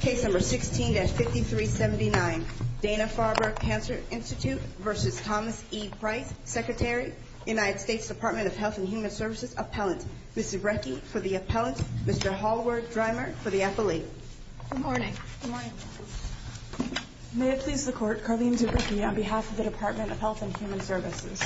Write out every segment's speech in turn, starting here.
Case number 16-5379, Dana Farber Cancer Institute v. Thomas E. Price, Secretary, United States Department of Health and Human Services Appellant, Ms. Zubrecki for the Appellant, Mr. Hallward-Drymer for the Appellate. Good morning. Good morning. May it please the Court, Carlene Zubrecki on behalf of the Department of Health and Human Services.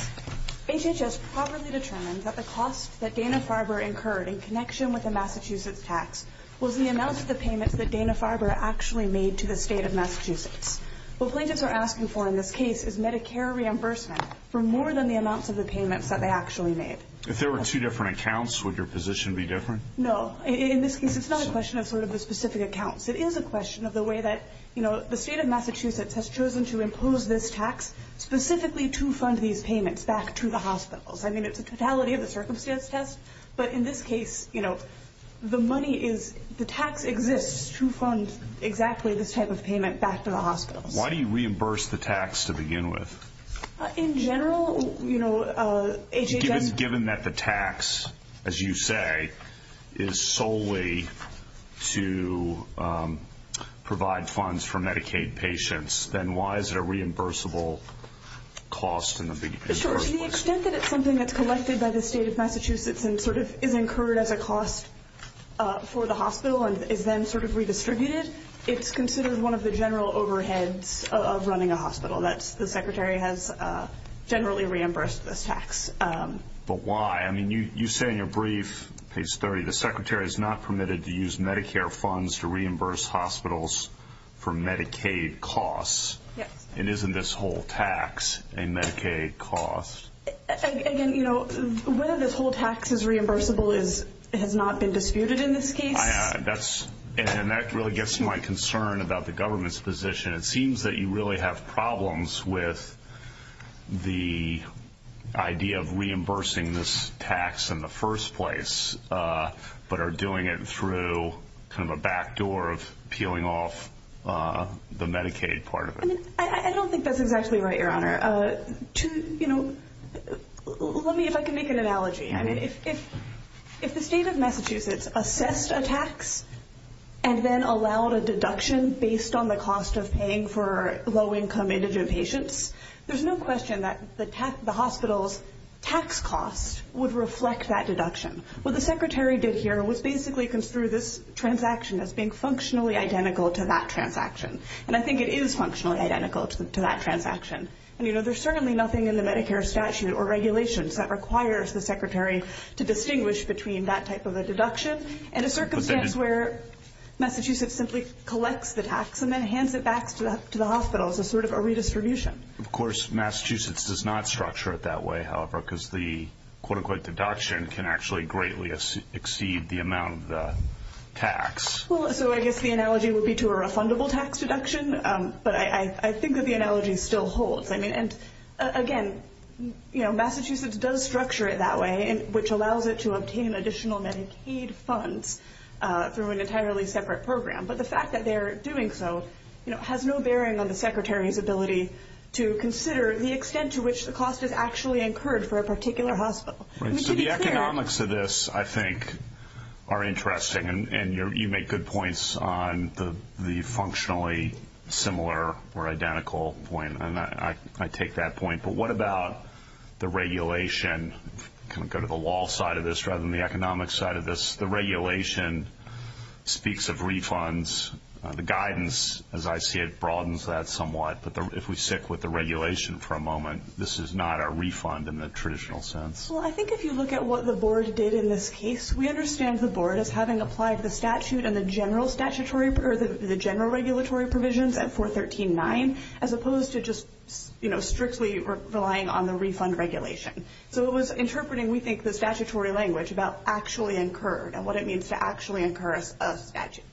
HHS properly determined that the cost that Dana Farber incurred in connection with the Massachusetts tax was the amount of the payments that Dana Farber actually made to the state of Massachusetts. What plaintiffs are asking for in this case is Medicare reimbursement for more than the amounts of the payments that they actually made. If there were two different accounts, would your position be different? No. In this case, it's not a question of sort of the specific accounts. It is a question of the way that, you know, the state of Massachusetts has chosen to impose this tax specifically to fund these payments back to the hospitals. I mean, it's a totality of the circumstance test, but in this case, you know, the money is, the tax exists to fund exactly this type of payment back to the hospitals. Why do you reimburse the tax to begin with? In general, you know, HHS- Given that the tax, as you say, is solely to provide funds for Medicaid patients, then why is it a reimbursable cost in the beginning? Sure. To the extent that it's something that's collected by the state of Massachusetts and sort of is incurred as a cost for the hospital and is then sort of redistributed, it's considered one of the general overheads of running a hospital, that the secretary has generally reimbursed this tax. But why? I mean, you say in your brief, page 30, the secretary is not permitted to use Medicare funds to reimburse hospitals for Medicaid costs. Yes. And isn't this whole tax a Medicaid cost? Again, you know, whether this whole tax is reimbursable has not been disputed in this case. And that really gets to my concern about the government's position. It seems that you really have problems with the idea of reimbursing this tax in the first place but are doing it through kind of a backdoor of peeling off the Medicaid part of it. I don't think that's exactly right, Your Honor. You know, let me, if I can make an analogy. I mean, if the state of Massachusetts assessed a tax and then allowed a deduction based on the cost of paying for low-income indigent patients, there's no question that the hospital's tax costs would reflect that deduction. What the secretary did here was basically construe this transaction as being functionally identical to that transaction. And I think it is functionally identical to that transaction. And, you know, there's certainly nothing in the Medicare statute or regulations that requires the secretary to distinguish between that type of a deduction and a circumstance where Massachusetts simply collects the tax and then hands it back to the hospitals as sort of a redistribution. Of course, Massachusetts does not structure it that way, however, because the quote-unquote deduction can actually greatly exceed the amount of the tax. Well, so I guess the analogy would be to a refundable tax deduction. But I think that the analogy still holds. I mean, again, Massachusetts does structure it that way, which allows it to obtain additional Medicaid funds through an entirely separate program. But the fact that they're doing so has no bearing on the secretary's ability to consider the extent to which the cost is actually incurred for a particular hospital. So the economics of this, I think, are interesting. And you make good points on the functionally similar or identical point, and I take that point. But what about the regulation? Kind of go to the law side of this rather than the economic side of this. The regulation speaks of refunds. The guidance, as I see it, broadens that somewhat. But if we stick with the regulation for a moment, this is not a refund in the traditional sense. Well, I think if you look at what the board did in this case, we understand the board as having applied the general regulatory provisions at 413.9 as opposed to just strictly relying on the refund regulation. So it was interpreting, we think, the statutory language about actually incurred and what it means to actually incur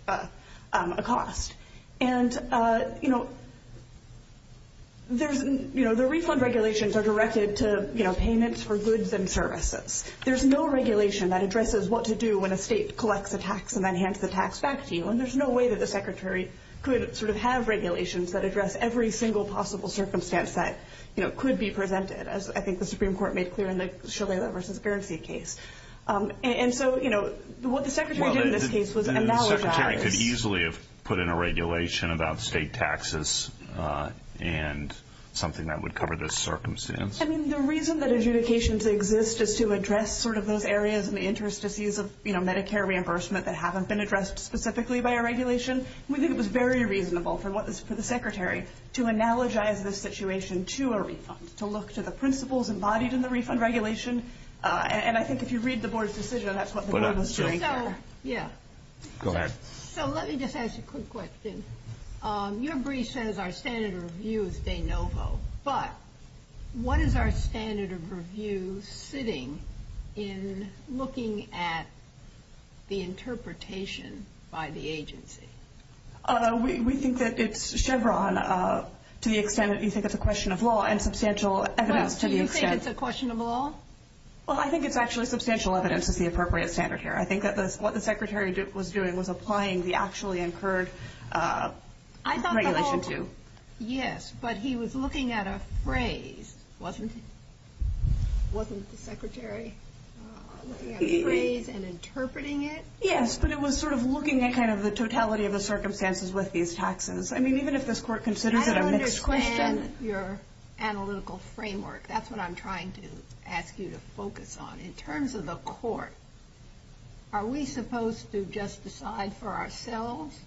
a cost. And, you know, the refund regulations are directed to payments for goods and services. There's no regulation that addresses what to do when a state collects a tax and then hands the tax back to you. And there's no way that the secretary could sort of have regulations that address every single possible circumstance that could be presented, as I think the Supreme Court made clear in the Shigella v. Guernsey case. And so, you know, what the secretary did in this case was acknowledge that. I could easily have put in a regulation about state taxes and something that would cover this circumstance. I mean, the reason that adjudications exist is to address sort of those areas and the interstices of, you know, Medicare reimbursement that haven't been addressed specifically by a regulation. We think it was very reasonable for the secretary to analogize this situation to a refund, to look to the principles embodied in the refund regulation. And I think if you read the board's decision, that's what the board was doing here. Yeah. Go ahead. So let me just ask a quick question. Your brief says our standard of review is de novo, but what is our standard of review sitting in looking at the interpretation by the agency? We think that it's Chevron to the extent that you think it's a question of law and substantial evidence to the extent. Do you think it's a question of law? Well, I think it's actually substantial evidence is the appropriate standard here. I think that what the secretary was doing was applying the actually incurred regulation to. Yes, but he was looking at a phrase, wasn't he? Wasn't the secretary looking at a phrase and interpreting it? Yes, but it was sort of looking at kind of the totality of the circumstances with these taxes. I mean, even if this court considers it a mixed question. I don't understand your analytical framework. That's what I'm trying to ask you to focus on. In terms of the court, are we supposed to just decide for ourselves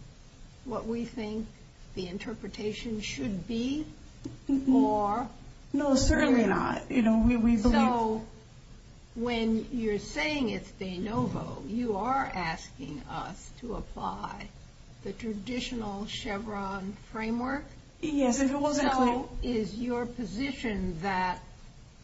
what we think the interpretation should be or? No, certainly not. So when you're saying it's de novo, you are asking us to apply the traditional Chevron framework? Yes, if it wasn't clear. So is your position that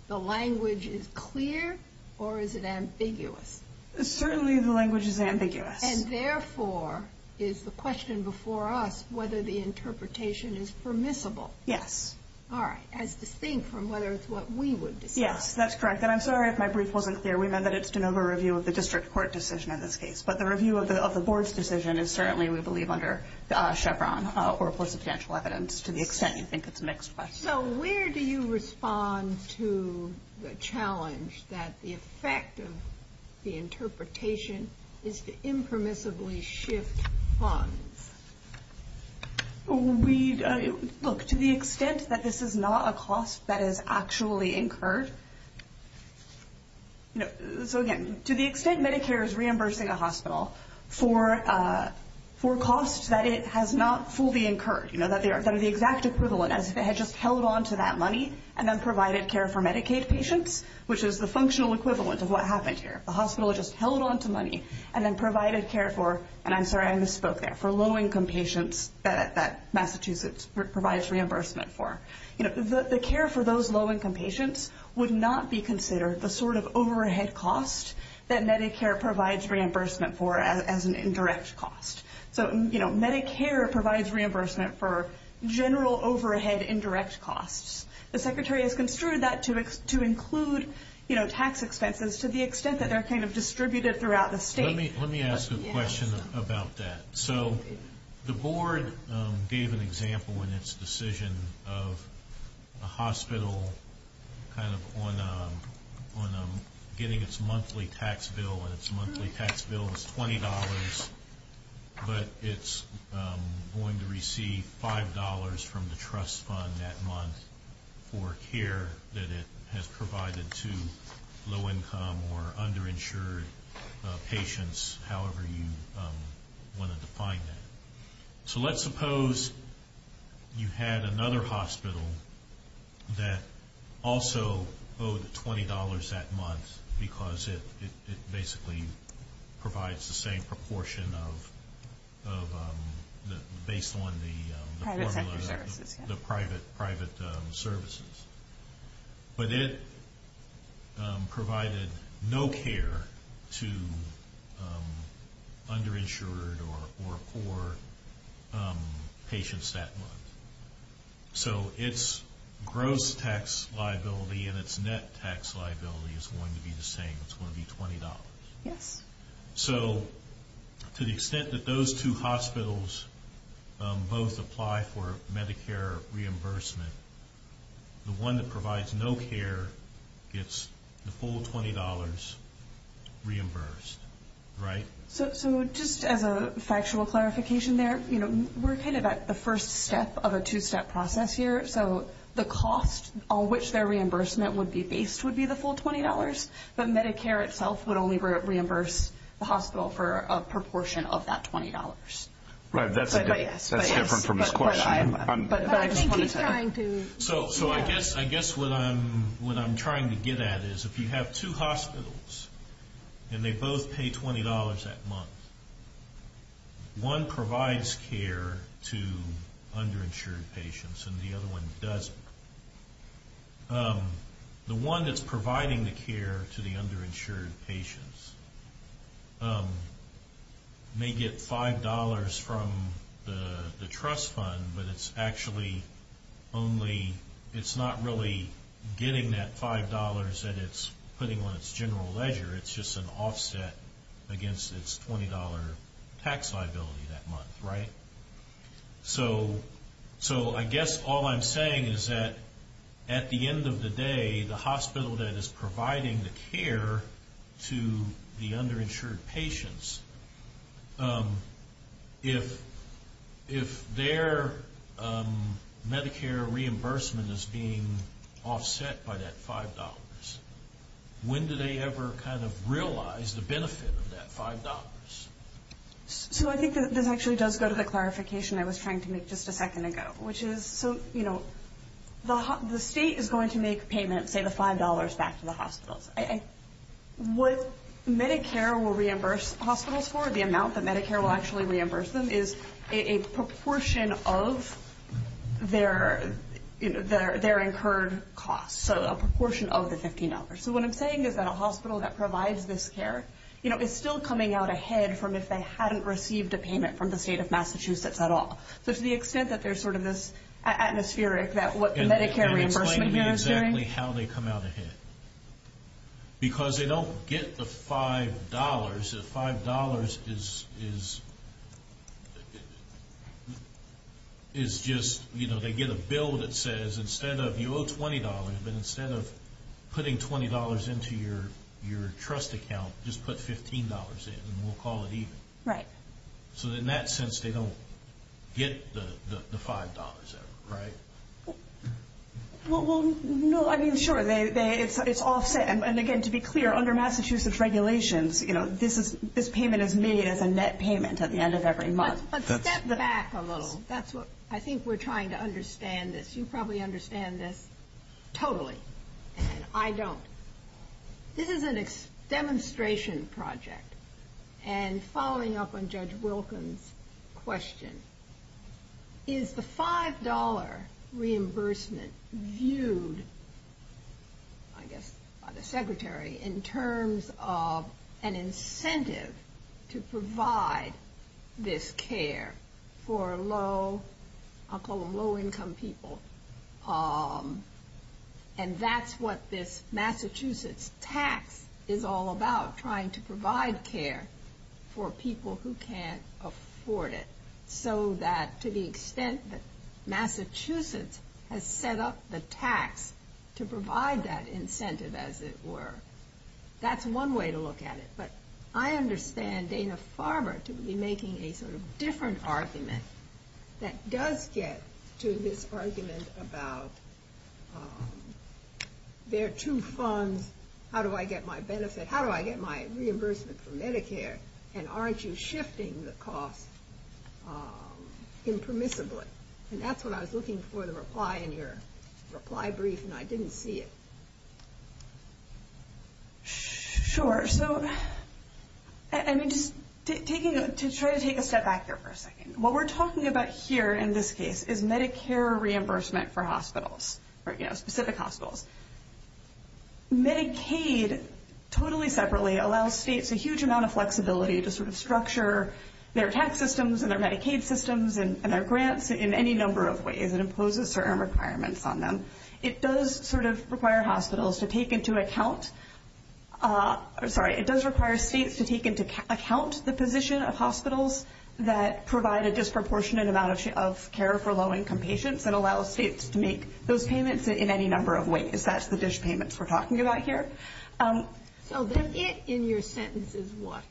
the language is clear or is it ambiguous? Certainly the language is ambiguous. And therefore is the question before us whether the interpretation is permissible. Yes. All right. As distinct from whether it's what we would decide. Yes, that's correct. And I'm sorry if my brief wasn't clear. We meant that it's de novo review of the district court decision in this case. But the review of the board's decision is certainly, we believe, under Chevron or for substantial evidence to the extent you think it's a mixed question. So where do you respond to the challenge that the effect of the interpretation is to impermissibly shift funds? Look, to the extent that this is not a cost that is actually incurred. So, again, to the extent Medicare is reimbursing a hospital for costs that it has not fully incurred, that are the exact equivalent as if it had just held on to that money and then provided care for Medicaid patients, which is the functional equivalent of what happened here. The hospital just held on to money and then provided care for, and I'm sorry, I misspoke there, for low-income patients that Massachusetts provides reimbursement for. The care for those low-income patients would not be considered the sort of overhead cost that Medicare provides reimbursement for as an indirect cost. So Medicare provides reimbursement for general overhead indirect costs. The Secretary has construed that to include tax expenses to the extent that they're kind of distributed throughout the state. Let me ask a question about that. So the board gave an example in its decision of a hospital kind of on getting its monthly tax bill, and its monthly tax bill is $20, but it's going to receive $5 from the trust fund that month for care that it has provided to low-income or underinsured patients, however you want to define that. So let's suppose you had another hospital that also owed $20 that month because it basically provides the same proportion of, based on the formula of the private services. But it provided no care to underinsured or poor patients that month. So its gross tax liability and its net tax liability is going to be the same. It's going to be $20. Yes. So to the extent that those two hospitals both apply for Medicare reimbursement, the one that provides no care gets the full $20 reimbursed, right? So just as a factual clarification there, we're kind of at the first step of a two-step process here. So the cost on which their reimbursement would be based would be the full $20, but Medicare itself would only reimburse the hospital for a proportion of that $20. Right. That's different from his question. But I just want to say. So I guess what I'm trying to get at is if you have two hospitals and they both pay $20 that month, one provides care to underinsured patients and the other one doesn't, the one that's providing the care to the underinsured patients may get $5 from the trust fund, but it's not really getting that $5 that it's putting on its general ledger. It's just an offset against its $20 tax liability that month, right? So I guess all I'm saying is that at the end of the day, the hospital that is providing the care to the underinsured patients, if their Medicare reimbursement is being offset by that $5, when do they ever kind of realize the benefit of that $5? So I think that this actually does go to the clarification I was trying to make just a second ago, which is the state is going to make payments, say, the $5 back to the hospitals. What Medicare will reimburse hospitals for, the amount that Medicare will actually reimburse them, is a proportion of their incurred costs, so a proportion of the $15. So what I'm saying is that a hospital that provides this care, you know, is still coming out ahead from if they hadn't received a payment from the state of Massachusetts at all. So to the extent that there's sort of this atmospheric that what the Medicare reimbursement here is doing. And explain to me exactly how they come out ahead. Because they don't get the $5. The $5 is just, you know, they get a bill that says instead of you owe $20, but instead of putting $20 into your trust account, just put $15 in and we'll call it even. Right. So in that sense, they don't get the $5 ever, right? Well, no, I mean, sure, it's offset. And again, to be clear, under Massachusetts regulations, you know, this payment is made as a net payment at the end of every month. But step back a little. I think we're trying to understand this. You probably understand this totally. And I don't. This is a demonstration project. And following up on Judge Wilkins' question, is the $5 reimbursement viewed, I guess by the Secretary, in terms of an incentive to provide this care for low-income people? And that's what this Massachusetts tax is all about, trying to provide care for people who can't afford it. So that to the extent that Massachusetts has set up the tax to provide that incentive, as it were, that's one way to look at it. But I understand Dana-Farber to be making a sort of different argument that does get to this argument about there are two funds. How do I get my benefit? How do I get my reimbursement for Medicare? And aren't you shifting the cost impermissibly? And that's what I was looking for, the reply in your reply brief, and I didn't see it. Sure. So just to try to take a step back here for a second. What we're talking about here in this case is Medicare reimbursement for hospitals, specific hospitals. Medicaid, totally separately, allows states a huge amount of flexibility to sort of structure their tax systems and their Medicaid systems and their grants in any number of ways. It imposes certain requirements on them. It does sort of require hospitals to take into account the position of hospitals that provide a disproportionate amount of care for low-income patients and allows states to make those payments in any number of ways. That's the dish payments we're talking about here. So the it in your sentence is what?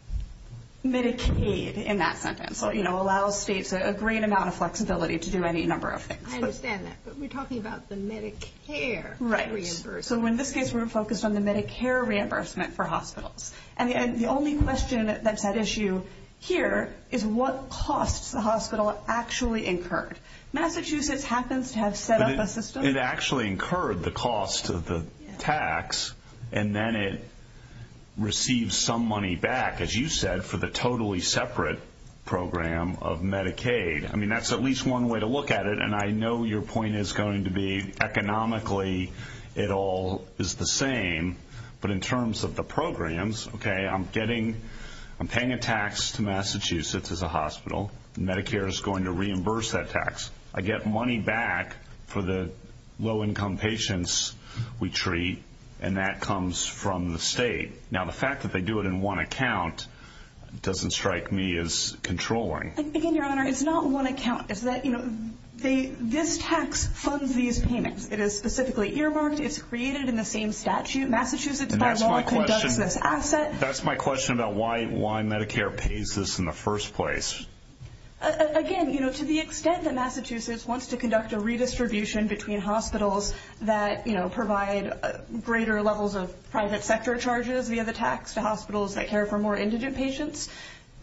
Medicaid in that sentence. It allows states a great amount of flexibility to do any number of things. I understand that, but we're talking about the Medicare reimbursement. Right. So in this case we're focused on the Medicare reimbursement for hospitals. And the only question that's at issue here is what costs the hospital actually incurred. Massachusetts happens to have set up a system. It actually incurred the cost of the tax, and then it received some money back, as you said, for the totally separate program of Medicaid. I mean, that's at least one way to look at it, and I know your point is going to be economically it all is the same. But in terms of the programs, okay, I'm paying a tax to Massachusetts as a hospital. Medicare is going to reimburse that tax. I get money back for the low-income patients we treat, and that comes from the state. Now, the fact that they do it in one account doesn't strike me as controlling. Again, Your Honor, it's not one account. It's that this tax funds these payments. It is specifically earmarked. It's created in the same statute. Massachusetts, by law, conducts this asset. That's my question about why Medicare pays this in the first place. Again, to the extent that Massachusetts wants to conduct a redistribution between hospitals that provide greater levels of private sector charges via the tax to hospitals that care for more indigent patients,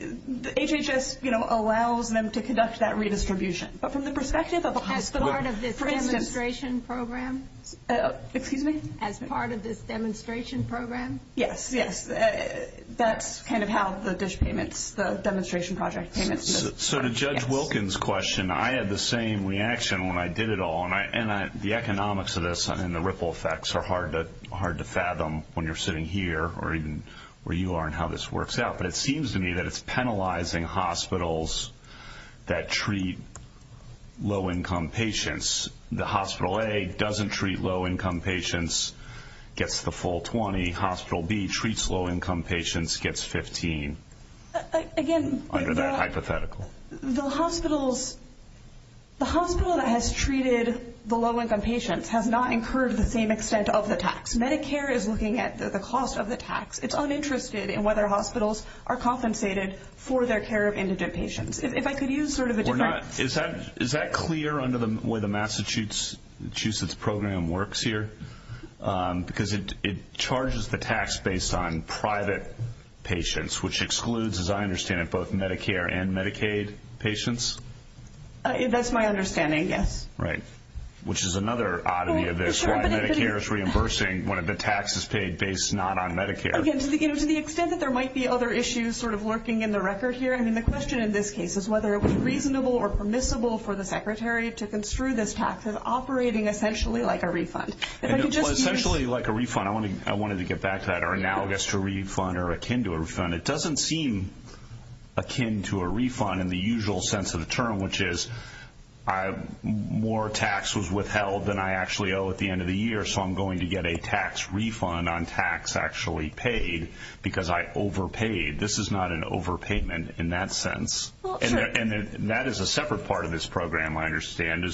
HHS allows them to conduct that redistribution. But from the perspective of a hospital, for instance. As part of this demonstration program? Excuse me? As part of this demonstration program? Yes, yes. That's kind of how the dish payments, the demonstration project payments. So to Judge Wilkins' question, I had the same reaction when I did it all, and the economics of this and the ripple effects are hard to fathom when you're sitting here or even where you are and how this works out. But it seems to me that it's penalizing hospitals that treat low-income patients. The hospital A doesn't treat low-income patients, gets the full 20. Hospital B treats low-income patients, gets 15. Again, the hospitals, the hospital that has treated the low-income patients has not incurred the same extent of the tax. Medicare is looking at the cost of the tax. It's uninterested in whether hospitals are compensated for their care of indigent patients. If I could use sort of a different. Is that clear under the way the Massachusetts program works here? Because it charges the tax based on private patients, which excludes, as I understand it, both Medicare and Medicaid patients? That's my understanding, yes. Right, which is another oddity of this. Medicare is reimbursing when the tax is paid based not on Medicare. Again, to the extent that there might be other issues sort of lurking in the record here, I mean, the question in this case is whether it would be reasonable or permissible for the secretary to construe this tax as operating essentially like a refund. Essentially like a refund. I wanted to get back to that or analogous to a refund or akin to a refund. It doesn't seem akin to a refund in the usual sense of the term, which is more tax was withheld than I actually owe at the end of the year, so I'm going to get a tax refund on tax actually paid because I overpaid. This is not an overpayment in that sense. And that is a separate part of this program, I understand,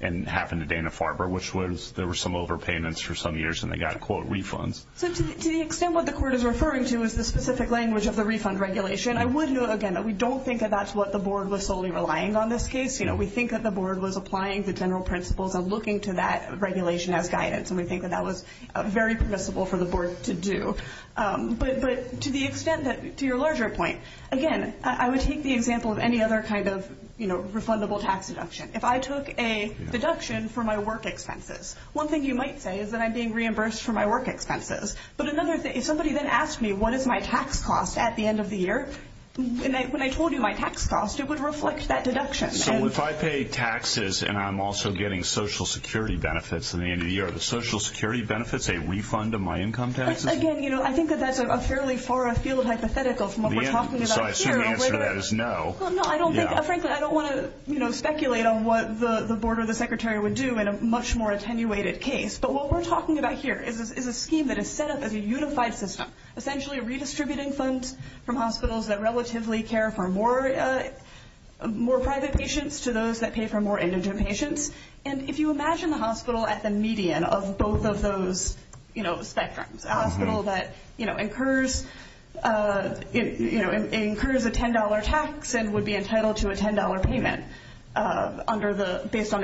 and happened to Dana-Farber, which was there were some overpayments for some years and they got, quote, refunds. So to the extent what the court is referring to is the specific language of the refund regulation, I would note, again, that we don't think that that's what the board was solely relying on this case. We think that the board was applying the general principles of looking to that regulation as guidance, and we think that that was very permissible for the board to do. But to the extent that, to your larger point, again, I would take the example of any other kind of refundable tax deduction. If I took a deduction for my work expenses, one thing you might say is that I'm being reimbursed for my work expenses. But another thing, if somebody then asked me what is my tax cost at the end of the year, when I told you my tax cost, it would reflect that deduction. So if I pay taxes and I'm also getting Social Security benefits at the end of the year, are the Social Security benefits a refund of my income taxes? Again, you know, I think that that's a fairly far afield hypothetical from what we're talking about here. So I assume the answer to that is no. No, I don't think, frankly, I don't want to, you know, But what we're talking about here is a scheme that is set up as a unified system, essentially redistributing funds from hospitals that relatively care for more private patients to those that pay for more indigent patients. And if you imagine the hospital at the median of both of those, you know, spectrums, a hospital that, you know, incurs a $10 tax and would be entitled to a $10 payment under the, based on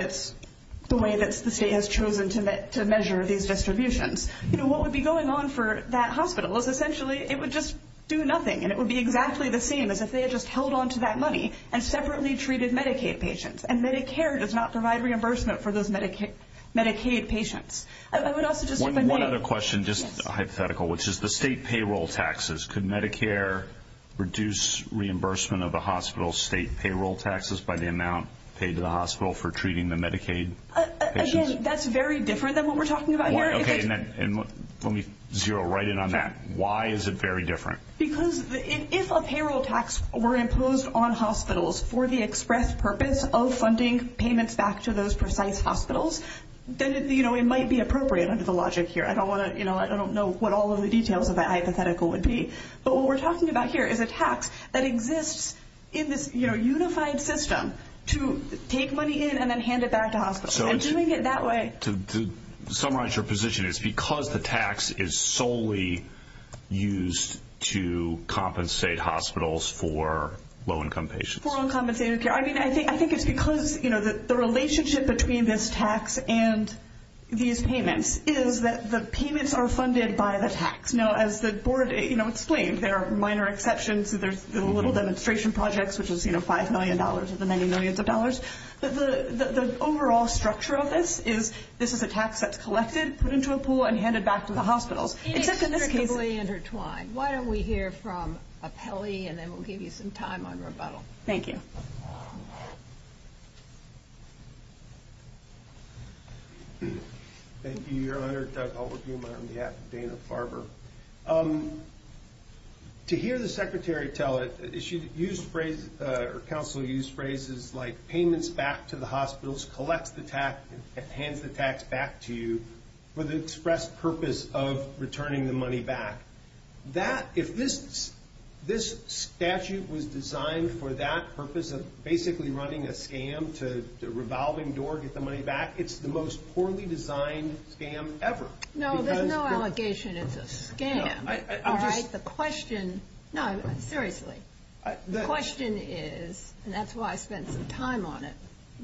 the way that the state has chosen to measure these distributions, you know, what would be going on for that hospital is essentially it would just do nothing and it would be exactly the same as if they had just held on to that money and separately treated Medicaid patients. And Medicare does not provide reimbursement for those Medicaid patients. I would also just say that One other question, just hypothetical, which is the state payroll taxes. Could Medicare reduce reimbursement of the hospital's state payroll taxes by the amount paid to the hospital for treating the Medicaid patients? Again, that's very different than what we're talking about here. Okay, and let me zero right in on that. Why is it very different? Because if a payroll tax were imposed on hospitals for the express purpose of funding payments back to those precise hospitals, then, you know, it might be appropriate under the logic here. I don't want to, you know, I don't know what all of the details of that hypothetical would be. But what we're talking about here is a tax that exists in this, you know, unified system to take money in and then hand it back to hospitals. And doing it that way To summarize your position, it's because the tax is solely used to compensate hospitals for low-income patients. For uncompensated care. I mean, I think it's because, you know, the relationship between this tax and these payments is that the payments are funded by the tax. Now, as the board, you know, explained, there are minor exceptions. There's the little demonstration projects, which is, you know, $5 million of the many millions of dollars. But the overall structure of this is this is a tax that's collected, put into a pool, and handed back to the hospitals. Except in this case It's intricately intertwined. Why don't we hear from Apelli, and then we'll give you some time on rebuttal. Thank you. Thank you, Your Honor. Doug Halbergema on behalf of Dana-Farber. To hear the Secretary tell it, Council used phrases like payments back to the hospitals, collects the tax, and hands the tax back to you for the express purpose of returning the money back. If this statute was designed for that purpose of basically running a scam to revolving door, get the money back, it's the most poorly designed scam ever. No, there's no allegation it's a scam. All right? The question, no, seriously. The question is, and that's why I spent some time on it,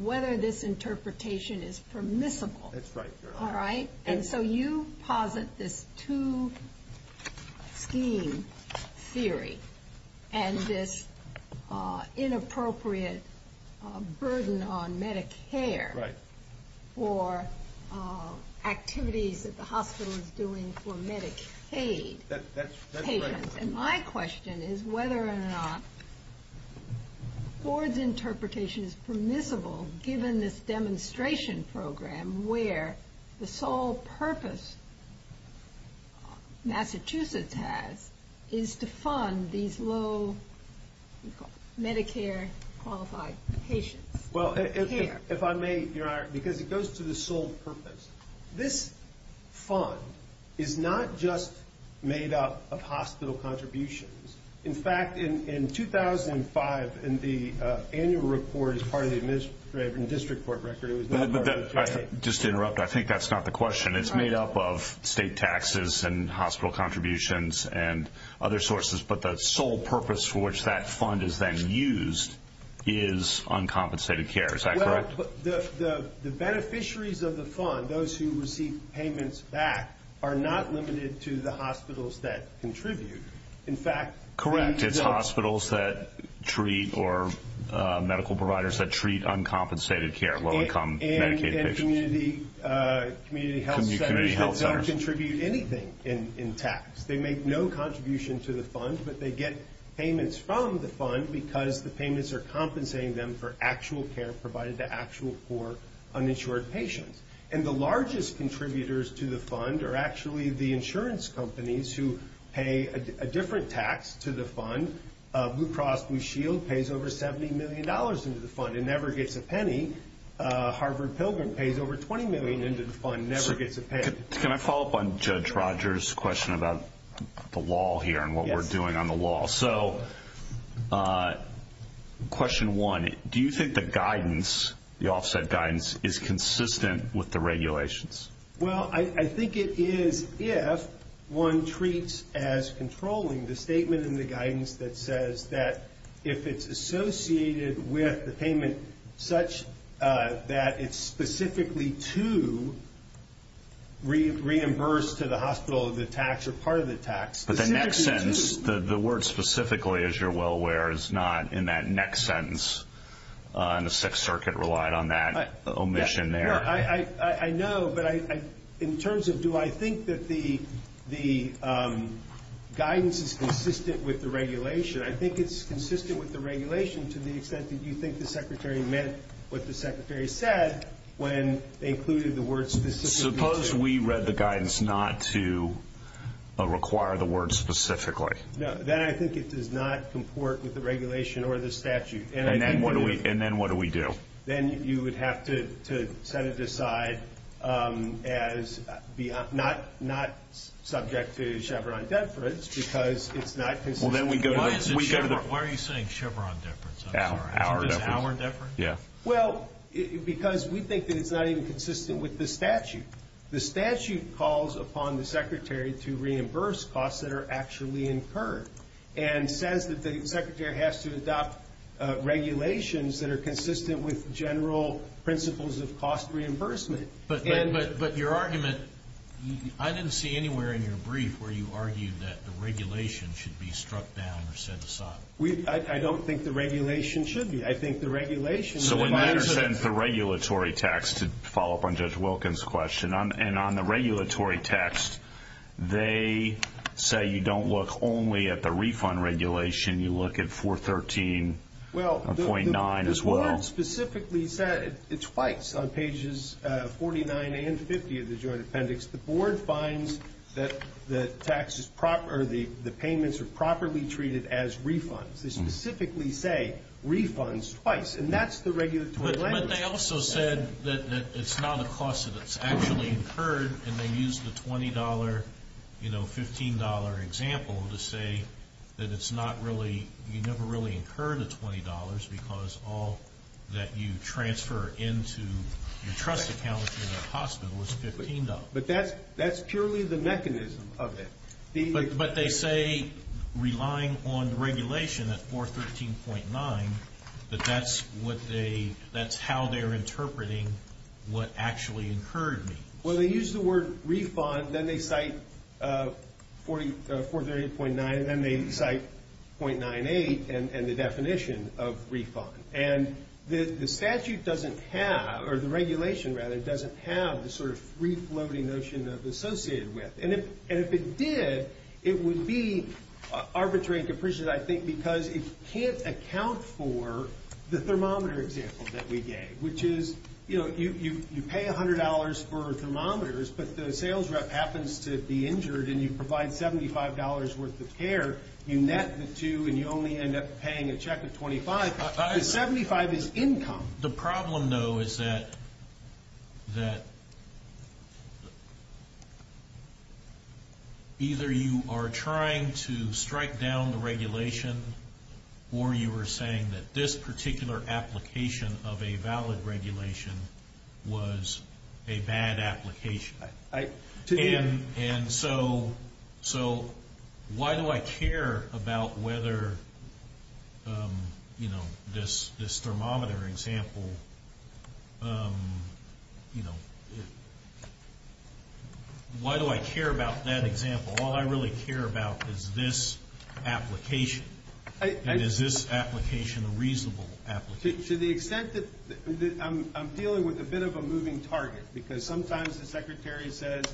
whether this interpretation is permissible. That's right, Your Honor. All right? And so you posit this two scheme theory, and this inappropriate burden on Medicare for activities that the hospital is doing for Medicaid. That's right. And my question is whether or not Ford's interpretation is permissible given this demonstration program where the sole purpose Massachusetts has is to fund these low Medicare qualified patients. Well, if I may, Your Honor, because it goes to the sole purpose. This fund is not just made up of hospital contributions. In fact, in 2005, in the annual report as part of the district court record, it was not part of the J.A. Just to interrupt, I think that's not the question. It's made up of state taxes and hospital contributions and other sources, but the sole purpose for which that fund is then used is uncompensated care. Is that correct? The beneficiaries of the fund, those who receive payments back, are not limited to the hospitals that contribute. In fact, correct. It's hospitals that treat or medical providers that treat uncompensated care, low-income Medicaid patients. And community health centers don't contribute anything in tax. They make no contribution to the fund, but they get payments from the fund because the payments are compensating them for actual care provided to actual poor, uninsured patients. And the largest contributors to the fund are actually the insurance companies who pay a different tax to the fund. Blue Cross Blue Shield pays over $70 million into the fund and never gets a penny. Harvard Pilgrim pays over $20 million into the fund and never gets a penny. Can I follow up on Judge Rogers' question about the law here and what we're doing on the law? So question one, do you think the guidance, the offset guidance, is consistent with the regulations? Well, I think it is if one treats as controlling the statement in the guidance that says that if it's associated with the payment such that it's specifically to reimburse to the hospital the tax or part of the tax. But the next sentence, the word specifically, as you're well aware, is not in that next sentence. And the Sixth Circuit relied on that omission there. I know, but in terms of do I think that the guidance is consistent with the regulation, I think it's consistent with the regulation to the extent that you think the Secretary meant what the Secretary said when they included the word specifically. Suppose we read the guidance not to require the word specifically. Then I think it does not comport with the regulation or the statute. And then what do we do? Then you would have to set it aside as not subject to Chevron deference because it's not consistent. Where are you saying Chevron deference? Our deference. Well, because we think that it's not even consistent with the statute. The statute calls upon the Secretary to reimburse costs that are actually incurred and says that the Secretary has to adopt regulations that are consistent with general principles of cost reimbursement. But your argument, I didn't see anywhere in your brief where you argued that the regulation should be struck down or set aside. I don't think the regulation should be. I think the regulation requires it. So when Nader sends the regulatory text, to follow up on Judge Wilkins' question, and on the regulatory text they say you don't look only at the refund regulation. You look at 413.9 as well. Well, the board specifically said it twice on pages 49 and 50 of the joint appendix. The board finds that the payments are properly treated as refunds. They specifically say refunds twice, and that's the regulatory language. But they also said that it's not a cost that's actually incurred, and they used the $20, you know, $15 example to say that it's not really, you never really incur the $20 because all that you transfer into your trust account in a hospital is $15. But that's purely the mechanism of it. But they say relying on regulation at 413.9, that that's how they're interpreting what actually incurred means. Well, they use the word refund, then they cite 413.9, and then they cite .98 and the definition of refund. And the statute doesn't have, or the regulation, rather, doesn't have the sort of free-floating notion of associated with. And if it did, it would be arbitrary and capricious, I think, because it can't account for the thermometer example that we gave, which is, you know, you pay $100 for thermometers, but the sales rep happens to be injured and you provide $75 worth of care. You net the two and you only end up paying a check of $25. The $75 is income. The problem, though, is that either you are trying to strike down the regulation or you are saying that this particular application of a valid regulation was a bad application. And so why do I care about whether, you know, this thermometer example, why do I care about that example? All I really care about is this application. And is this application a reasonable application? To the extent that I'm dealing with a bit of a moving target, because sometimes the Secretary says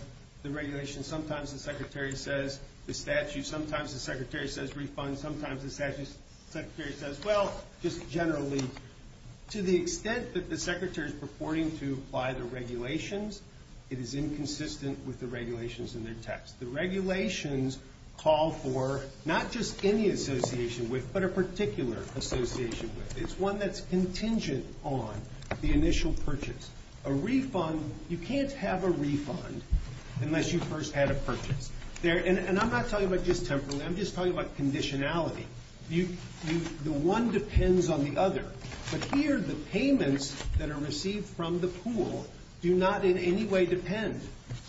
the regulation, sometimes the Secretary says the statute, sometimes the Secretary says refund, sometimes the Secretary says, well, just generally. To the extent that the Secretary is purporting to apply the regulations, it is inconsistent with the regulations in their text. The regulations call for not just any association with, but a particular association with. It's one that's contingent on the initial purchase. A refund, you can't have a refund unless you first had a purchase. And I'm not talking about just temporarily. I'm just talking about conditionality. The one depends on the other. But here the payments that are received from the pool do not in any way depend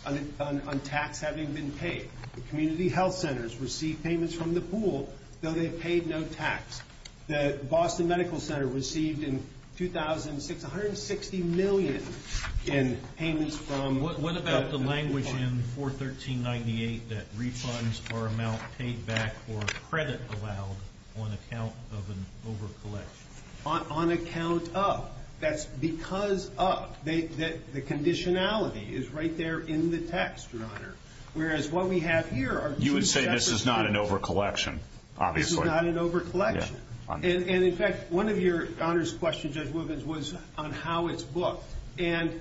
on tax having been paid. The community health centers receive payments from the pool, though they've paid no tax. The Boston Medical Center received in 2006 160 million in payments from the pool. What about the language in 41398 that refunds are amount paid back or credit allowed on account of an overcollection? On account of. That's because of. The conditionality is right there in the text, Your Honor. Whereas what we have here are two separate. You would say this is not an overcollection, obviously. It's not an overcollection. And, in fact, one of Your Honor's questions, Judge Wilkins, was on how it's booked. And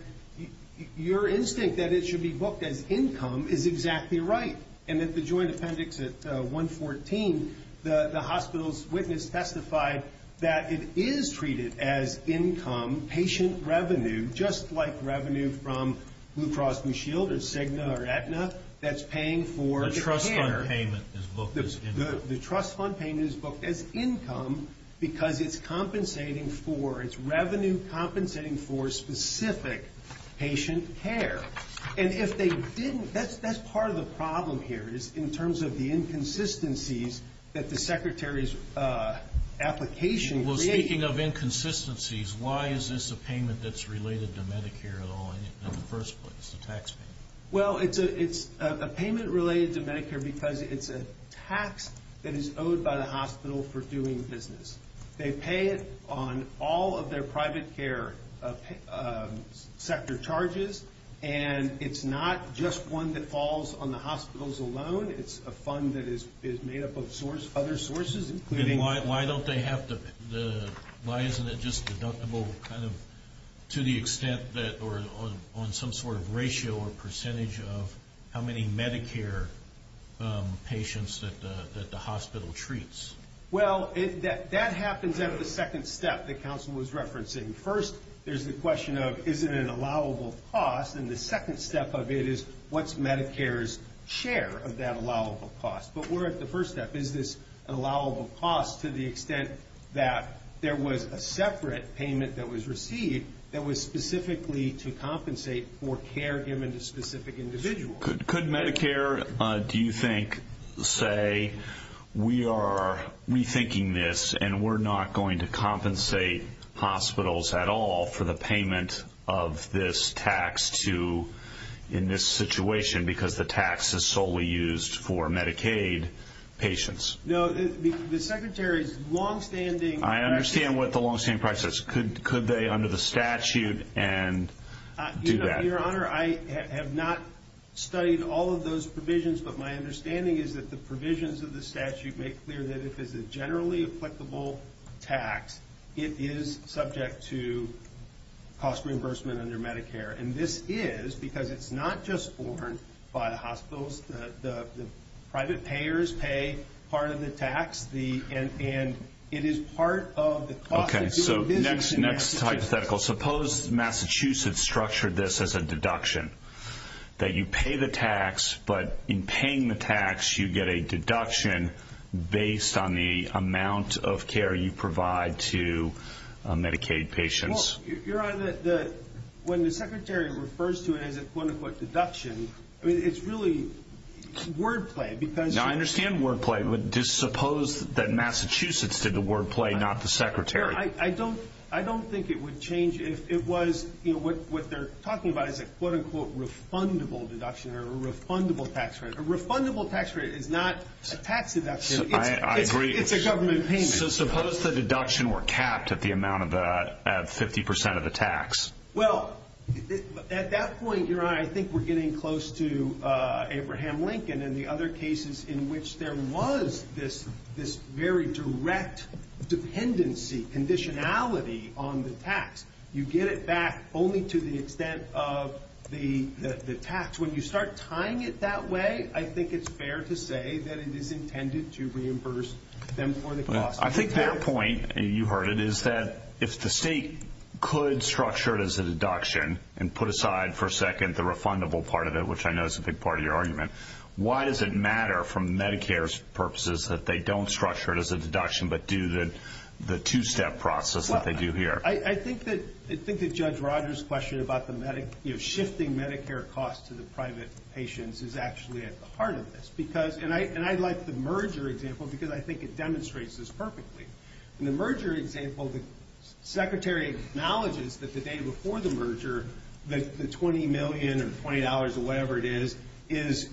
your instinct that it should be booked as income is exactly right. And at the joint appendix at 114, the hospital's witness testified that it is treated as income, patient revenue, just like revenue from Blue Cross Blue Shield or Cigna or Aetna that's paying for the canner. The trust fund payment is booked as income. The trust fund payment is booked as income because it's compensating for, it's revenue compensating for specific patient care. And if they didn't, that's part of the problem here is in terms of the inconsistencies that the Secretary's application created. Well, speaking of inconsistencies, why is this a payment that's related to Medicare at all in the first place, a tax payment? Well, it's a payment related to Medicare because it's a tax that is owed by the hospital for doing business. They pay it on all of their private care sector charges, and it's not just one that falls on the hospitals alone. It's a fund that is made up of other sources, including- Why don't they have the, why isn't it just deductible kind of to the extent that, or on some sort of ratio or percentage of how many Medicare patients that the hospital treats? Well, that happens at the second step that counsel was referencing. First, there's the question of, is it an allowable cost? And the second step of it is, what's Medicare's share of that allowable cost? But we're at the first step. Is this an allowable cost to the extent that there was a separate payment that was received that was specifically to compensate for care given to specific individuals? Could Medicare, do you think, say we are rethinking this and we're not going to compensate hospitals at all for the payment of this tax to, in this situation, because the tax is solely used for Medicaid patients? No, the Secretary's longstanding- I understand what the longstanding price is. Could they, under the statute, do that? Your Honor, I have not studied all of those provisions, but my understanding is that the provisions of the statute make clear that if it's a generally applicable tax, it is subject to cost reimbursement under Medicare. And this is because it's not just borne by the hospitals. The private payers pay part of the tax, and it is part of the cost of doing business. Okay, so next hypothetical. Suppose Massachusetts structured this as a deduction, that you pay the tax, but in paying the tax you get a deduction based on the amount of care you provide to Medicaid patients. Your Honor, when the Secretary refers to it as a quote-unquote deduction, it's really wordplay because- I understand wordplay, but just suppose that Massachusetts did the wordplay, not the Secretary. I don't think it would change if it was what they're talking about as a quote-unquote refundable deduction or a refundable tax rate. A refundable tax rate is not a tax deduction. I agree. It's a government payment. Okay, so suppose the deduction were capped at the amount of 50% of the tax. Well, at that point, Your Honor, I think we're getting close to Abraham Lincoln and the other cases in which there was this very direct dependency, conditionality on the tax. You get it back only to the extent of the tax. When you start tying it that way, I think it's fair to say that it is intended to reimburse them for the cost. I think their point, and you heard it, is that if the state could structure it as a deduction and put aside for a second the refundable part of it, which I know is a big part of your argument, why does it matter from Medicare's purposes that they don't structure it as a deduction but do the two-step process that they do here? I think that Judge Rogers' question about shifting Medicare costs to the private patients is actually at the heart of this. And I like the merger example because I think it demonstrates this perfectly. In the merger example, the Secretary acknowledges that the day before the merger, the $20 million or $20 or whatever it is is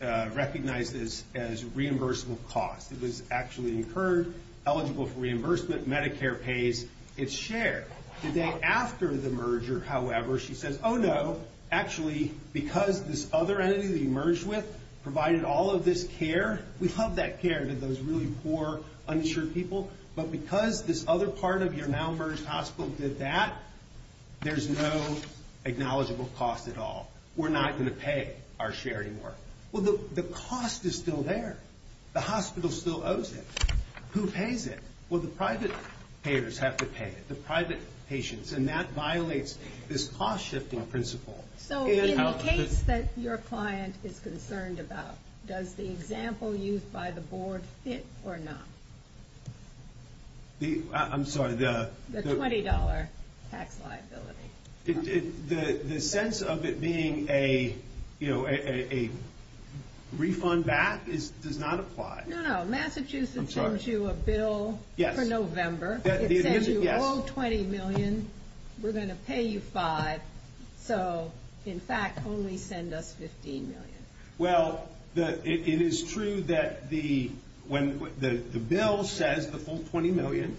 recognized as reimbursable cost. It was actually incurred, eligible for reimbursement. Medicare pays its share. The day after the merger, however, she says, oh, no, actually because this other entity that you merged with provided all of this care, we love that care to those really poor, uninsured people, but because this other part of your now-merged hospital did that, there's no acknowledgable cost at all. We're not going to pay our share anymore. Well, the cost is still there. The hospital still owes it. Who pays it? Well, the private payers have to pay it, the private patients, and that violates this cost-shifting principle. So in the case that your client is concerned about, does the example used by the board fit or not? I'm sorry. The $20 tax liability. The sense of it being a refund back does not apply. No, no. The issue is it sends you a bill for November. It says you owe $20 million. We're going to pay you $5. So, in fact, only send us $15 million. Well, it is true that the bill says the full $20 million,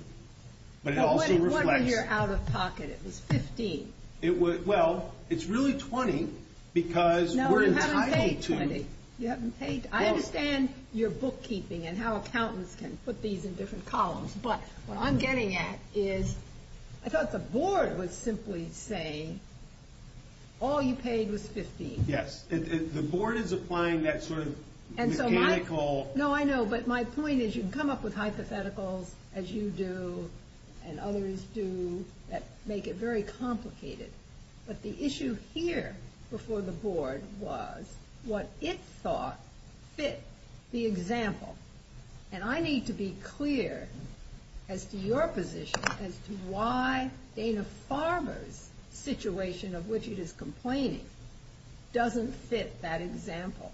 but it also reflects. But what if you're out of pocket? It was $15. Well, it's really $20 because we're entitled to. No, you haven't paid $20. You haven't paid. I understand your bookkeeping and how accountants can put these in different columns, but what I'm getting at is I thought the board was simply saying all you paid was $15. Yes. The board is applying that sort of mechanical. No, I know, but my point is you can come up with hypotheticals, as you do and others do, that make it very complicated. But the issue here before the board was what it thought fit the example. And I need to be clear as to your position as to why Dana Farmer's situation, of which it is complaining, doesn't fit that example.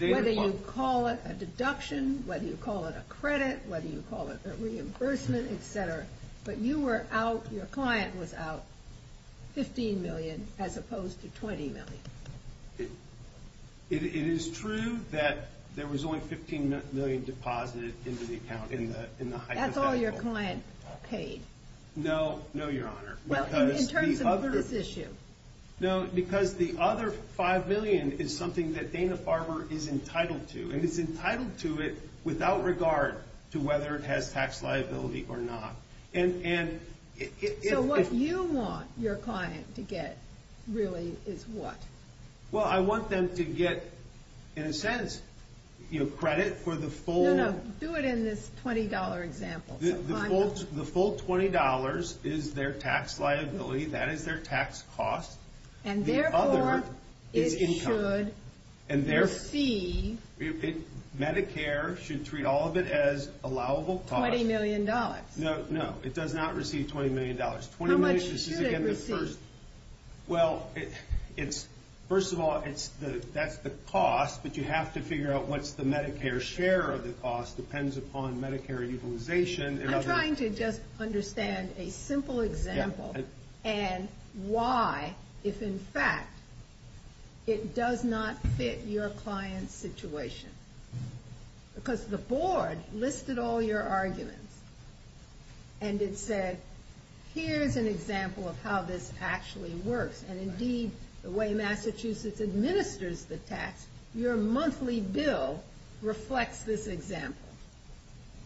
Whether you call it a deduction, whether you call it a credit, whether you call it a reimbursement, et cetera. But you were out, your client was out $15 million as opposed to $20 million. It is true that there was only $15 million deposited into the account in the hypothetical. That's all your client paid. No, no, Your Honor. Well, in terms of this issue. No, because the other $5 million is something that Dana Farmer is entitled to, and is entitled to it without regard to whether it has tax liability or not. So what you want your client to get really is what? Well, I want them to get, in a sense, credit for the full. No, no, do it in this $20 example. The full $20 is their tax liability. That is their tax cost. And therefore, it should receive. Medicare should treat all of it as allowable cost. $20 million. No, no, it does not receive $20 million. How much should it receive? Well, first of all, that's the cost, but you have to figure out what's the Medicare share of the cost depends upon Medicare utilization. I'm trying to just understand a simple example and why, if in fact, it does not fit your client's situation. Because the board listed all your arguments, and it said, here's an example of how this actually works. And indeed, the way Massachusetts administers the tax, your monthly bill reflects this example.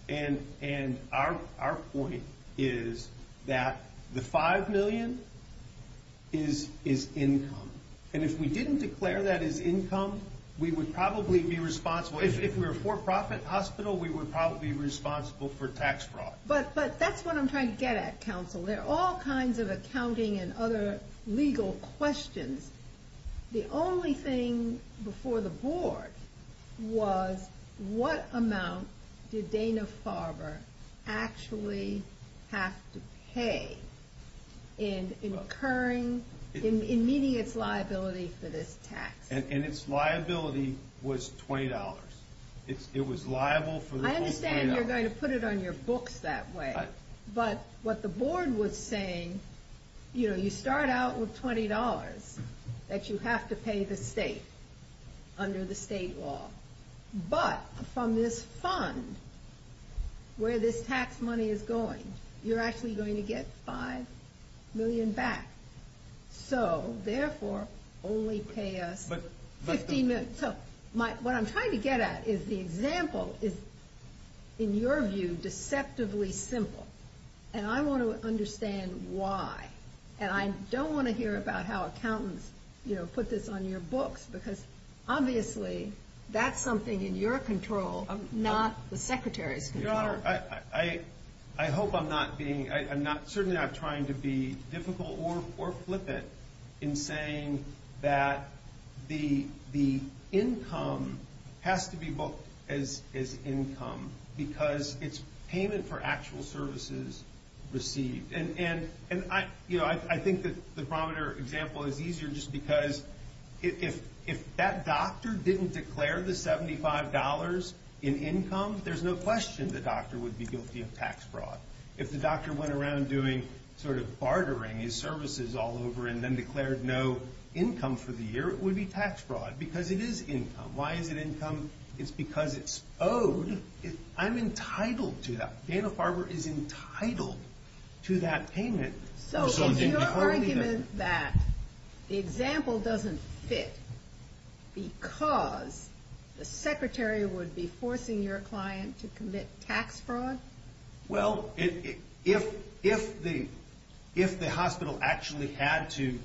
And our point is that the $5 million is income. And if we didn't declare that as income, we would probably be responsible. If we were a for-profit hospital, we would probably be responsible for tax fraud. But that's what I'm trying to get at, counsel. There are all kinds of accounting and other legal questions. The only thing before the board was, what amount did Dana-Farber actually have to pay in meeting its liability for this tax? And its liability was $20. It was liable for the whole $20. I understand you're going to put it on your books that way. But what the board was saying, you start out with $20 that you have to pay the state under the state law. But from this fund, where this tax money is going, you're actually going to get $5 million back. So, therefore, only pay us $15 million. What I'm trying to get at is the example is, in your view, deceptively simple. And I want to understand why. And I don't want to hear about how accountants put this on your books. Because, obviously, that's something in your control, not the Secretary's control. Your Honor, I hope I'm not being— Certainly, I'm not trying to be difficult or flippant in saying that the income has to be booked as income. Because it's payment for actual services received. And I think the barometer example is easier just because if that doctor didn't declare the $75 in income, there's no question the doctor would be guilty of tax fraud. If the doctor went around doing sort of bartering his services all over and then declared no income for the year, it would be tax fraud. Because it is income. Why is it income? It's because it's owed. I'm entitled to that. Dana-Farber is entitled to that payment. So is your argument that the example doesn't fit because the Secretary would be forcing your client to commit tax fraud? Well, if the hospital actually had to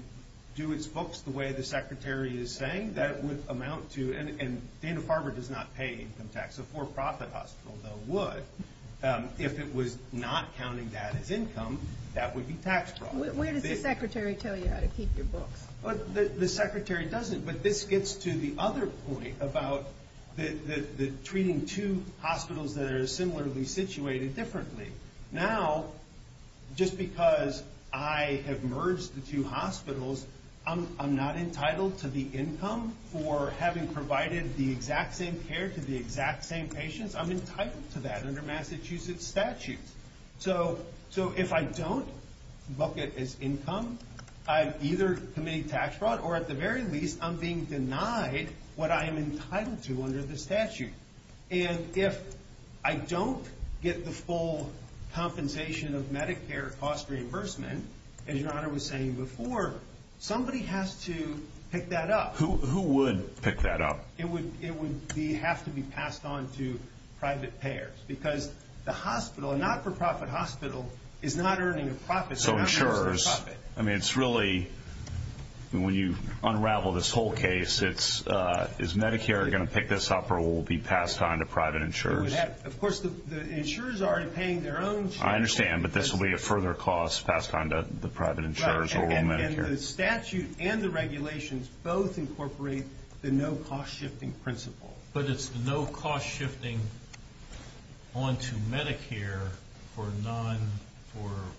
do its books the way the Secretary is saying, that would amount to— and Dana-Farber does not pay income tax. A for-profit hospital, though, would. If it was not counting that as income, that would be tax fraud. Where does the Secretary tell you how to keep your books? The Secretary doesn't. But this gets to the other point about treating two hospitals that are similarly situated differently. Now, just because I have merged the two hospitals, I'm not entitled to the income for having provided the exact same care to the exact same patients? I'm entitled to that under Massachusetts statutes. So if I don't book it as income, I've either committed tax fraud or, at the very least, I'm being denied what I am entitled to under the statute. And if I don't get the full compensation of Medicare cost reimbursement, as your Honor was saying before, somebody has to pick that up. Who would pick that up? It would have to be passed on to private payers because the hospital, a not-for-profit hospital is not earning a profit. So insurers, I mean, it's really when you unravel this whole case, is Medicare going to pick this up or will it be passed on to private insurers? Of course, the insurers are already paying their own share. I understand, but this will be a further cost passed on to the private insurers or Medicare. And the statute and the regulations both incorporate the no-cost-shifting principle. But it's the no-cost-shifting onto Medicare for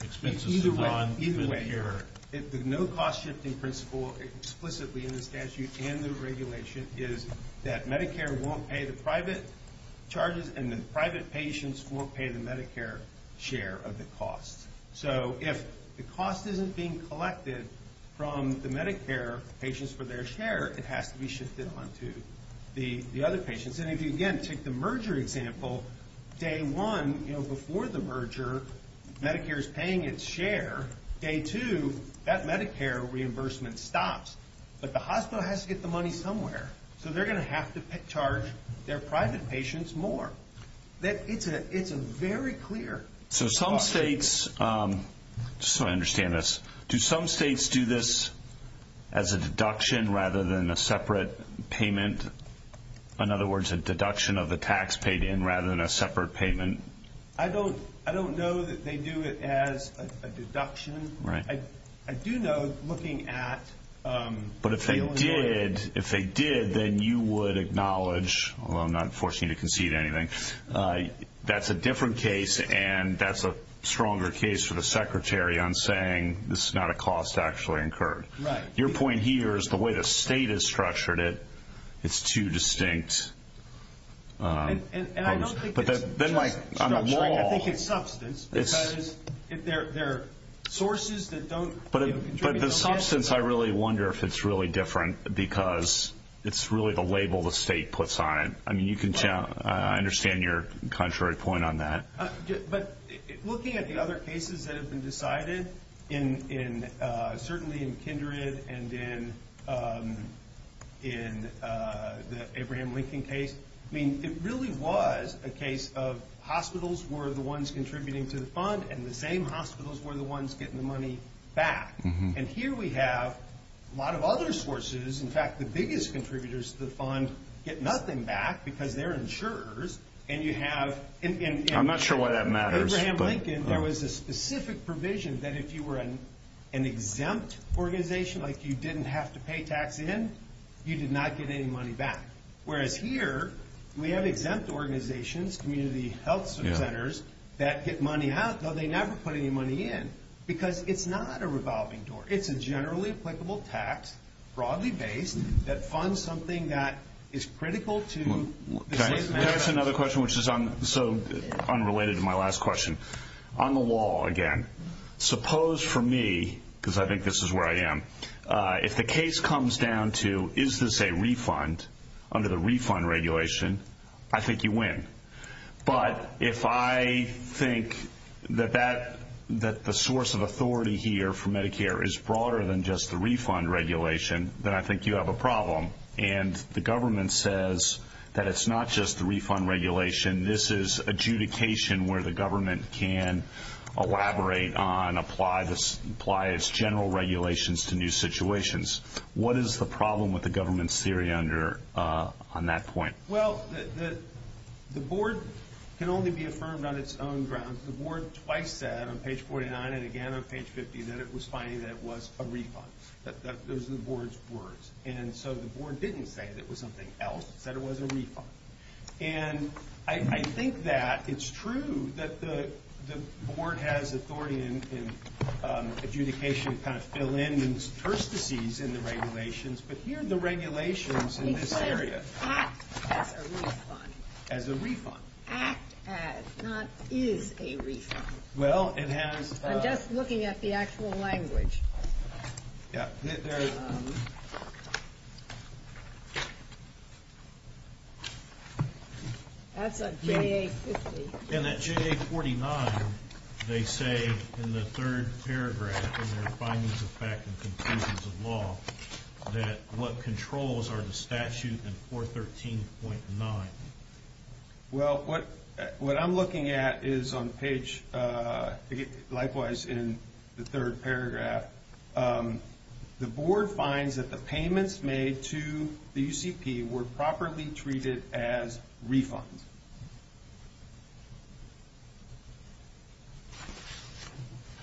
expenses to run Medicare. Either way. The no-cost-shifting principle explicitly in the statute and the regulation is that Medicare won't pay the private charges and the private patients won't pay the Medicare share of the cost. So if the cost isn't being collected from the Medicare patients for their share, it has to be shifted onto the other patients. And if you, again, take the merger example, day one, before the merger, Medicare is paying its share. Day two, that Medicare reimbursement stops. But the hospital has to get the money somewhere. So they're going to have to charge their private patients more. It's a very clear cost. So some states, just so I understand this, do some states do this as a deduction rather than a separate payment? In other words, a deduction of the tax paid in rather than a separate payment? I don't know that they do it as a deduction. I do know, looking at the Illinois. But if they did, then you would acknowledge, although I'm not forcing you to concede anything, that's a different case and that's a stronger case for the secretary on saying this is not a cost actually incurred. Your point here is the way the state has structured it, it's too distinct. And I don't think it's just structuring. I think it's substance. There are sources that don't contribute. But the substance, I really wonder if it's really different because it's really the label the state puts on it. I understand your contrary point on that. But looking at the other cases that have been decided, certainly in Kindred and in the Abraham Lincoln case, it really was a case of hospitals were the ones contributing to the fund and the same hospitals were the ones getting the money back. And here we have a lot of other sources. In fact, the biggest contributors to the fund get nothing back because they're insurers. I'm not sure why that matters. In Abraham Lincoln, there was a specific provision that if you were an exempt organization, like you didn't have to pay tax in, you did not get any money back. Whereas here, we have exempt organizations, community health centers, that get money out, though they never put any money in because it's not a revolving door. It's a generally applicable tax, broadly based, that funds something that is critical to the state's manifesto. Can I ask another question, which is unrelated to my last question? On the law, again, suppose for me, because I think this is where I am, if the case comes down to is this a refund under the refund regulation, I think you win. But if I think that the source of authority here for Medicare is broader than just the refund regulation, then I think you have a problem. And the government says that it's not just the refund regulation, this is adjudication where the government can elaborate on, apply its general regulations to new situations. What is the problem with the government's theory on that point? Well, the board can only be affirmed on its own grounds. The board twice said, on page 49 and again on page 50, that it was finding that it was a refund. Those are the board's words. And so the board didn't say that it was something else, it said it was a refund. And I think that it's true that the board has authority in adjudication to kind of fill in these turstices in the regulations, but here are the regulations in this area. It says act as a refund. As a refund. Act as, not is a refund. Well, it has. I'm just looking at the actual language. Yeah. That's a JA 50. And that JA 49, they say in the third paragraph in their findings of fact and conclusions of law, that what controls are the statute in 413.9. Well, what I'm looking at is on page, likewise in the third paragraph, the board finds that the payments made to the UCP were properly treated as refunds.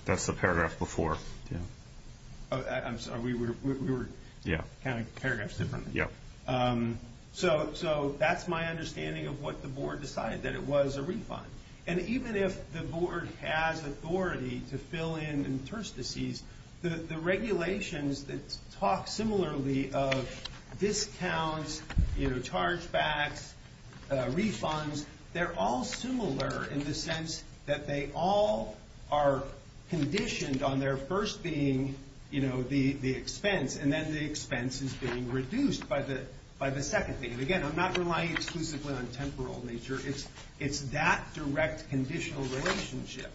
That's the paragraph before. I'm sorry, we were counting paragraphs differently. Yeah. So that's my understanding of what the board decided, that it was a refund. And even if the board has authority to fill in turstices, the regulations that talk similarly of discounts, chargebacks, refunds, they're all similar in the sense that they all are conditioned on their first being the expense, and then the expense is being reduced by the second thing. And again, I'm not relying exclusively on temporal nature. It's that direct conditional relationship.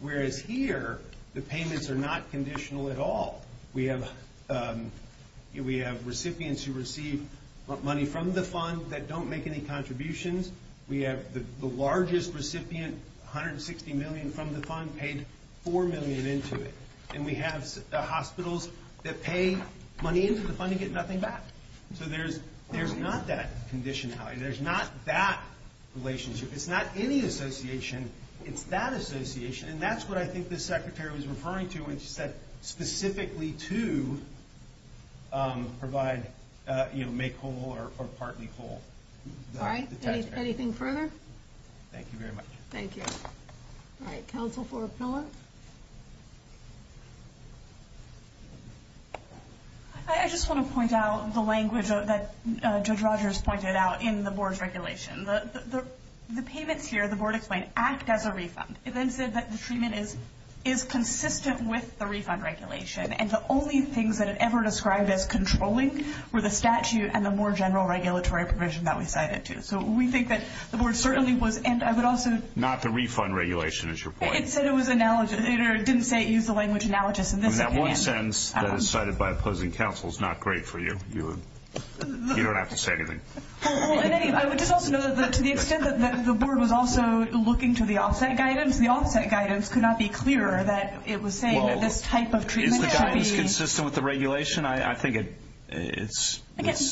Whereas here, the payments are not conditional at all. We have recipients who receive money from the fund that don't make any contributions. We have the largest recipient, 160 million from the fund, paid 4 million into it. And we have hospitals that pay money into the fund and get nothing back. So there's not that conditionality. There's not that relationship. It's not any association. It's that association. And that's what I think the secretary was referring to when she said specifically to provide, you know, make whole or partly whole. All right. Anything further? Thank you very much. Thank you. All right. Counsel for Pillar? I just want to point out the language that Judge Rogers pointed out in the board's regulation. The payments here, the board explained, act as a refund. It then said that the treatment is consistent with the refund regulation, and the only things that it ever described as controlling were the statute and the more general regulatory provision that we cited, too. So we think that the board certainly was, and I would also ‑‑ Not the refund regulation is your point. It said it was analogous. It didn't say it used the language analogous. That one sentence that is cited by opposing counsel is not great for you. You don't have to say anything. I would just also note that to the extent that the board was also looking to the offset guidance, the offset guidance could not be clearer that it was saying that this type of treatment should be ‑‑ Is the guidance consistent with the regulation? I think it's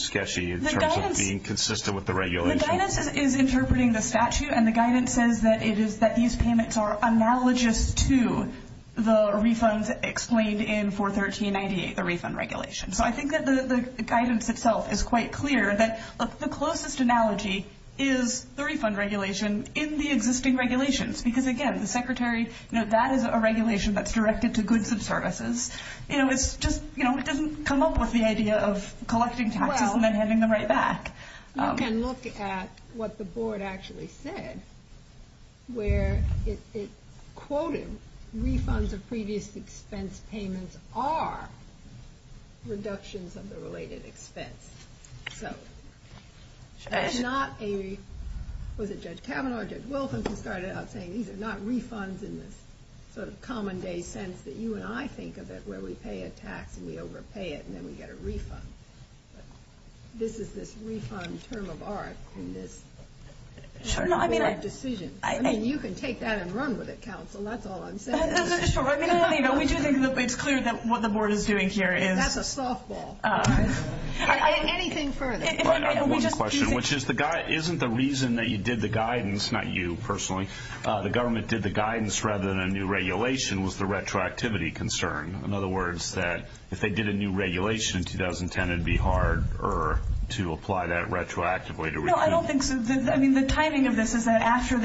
sketchy in terms of being consistent with the regulation. The guidance is interpreting the statute, and the guidance says that it is that these payments are analogous to the refunds explained in 413‑98, the refund regulation. So I think that the guidance itself is quite clear that the closest analogy is the refund regulation in the existing regulations because, again, the secretary ‑‑ that is a regulation that's directed to goods and services. It's just ‑‑ it doesn't come up with the idea of collecting taxes and then handing them right back. You can look at what the board actually said where it quoted refunds of previous expense payments are reductions of the related expense. So it's not a ‑‑ was it Judge Kavanaugh or Judge Wilkins who started out saying these are not refunds in this sort of common day sense that you and I think of it where we pay a tax and we overpay it and then we get a refund. This is this refund term of art in this sort of board decision. I mean, you can take that and run with it, counsel. That's all I'm saying. No, no, sure. I mean, we do think it's clear that what the board is doing here is ‑‑ That's a softball. Anything further. I have one question, which is the ‑‑ isn't the reason that you did the guidance, not you personally, the government did the guidance rather than a new regulation was the retroactivity concern. In other words, that if they did a new regulation in 2010, it would be harder to apply that retroactively to refund. No, I don't think so. I mean, the timing of this is that after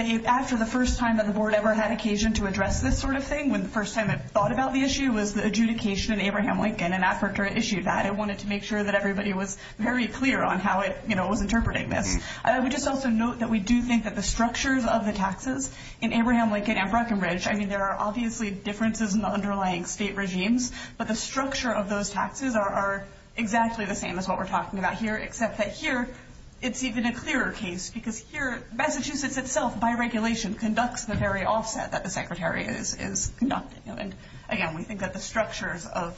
the first time that the board ever had occasion to address this sort of thing, when the first time it thought about the issue was the adjudication in Abraham Lincoln and after it issued that, it wanted to make sure that everybody was very clear on how it was interpreting this. I would just also note that we do think that the structures of the taxes in Abraham Lincoln and Breckenridge, I mean, there are obviously differences in the underlying state regimes, but the structure of those taxes are exactly the same as what we're talking about here, except that here it's even a clearer case, because here Massachusetts itself by regulation conducts the very offset that the secretary is conducting. And again, we think that the structures of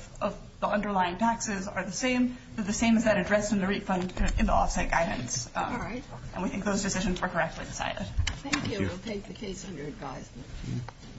the underlying taxes are the same, but the same as that addressed in the refund in the offset guidance. All right. And we think those decisions were correctly decided. Thank you. We'll take the case under advisement.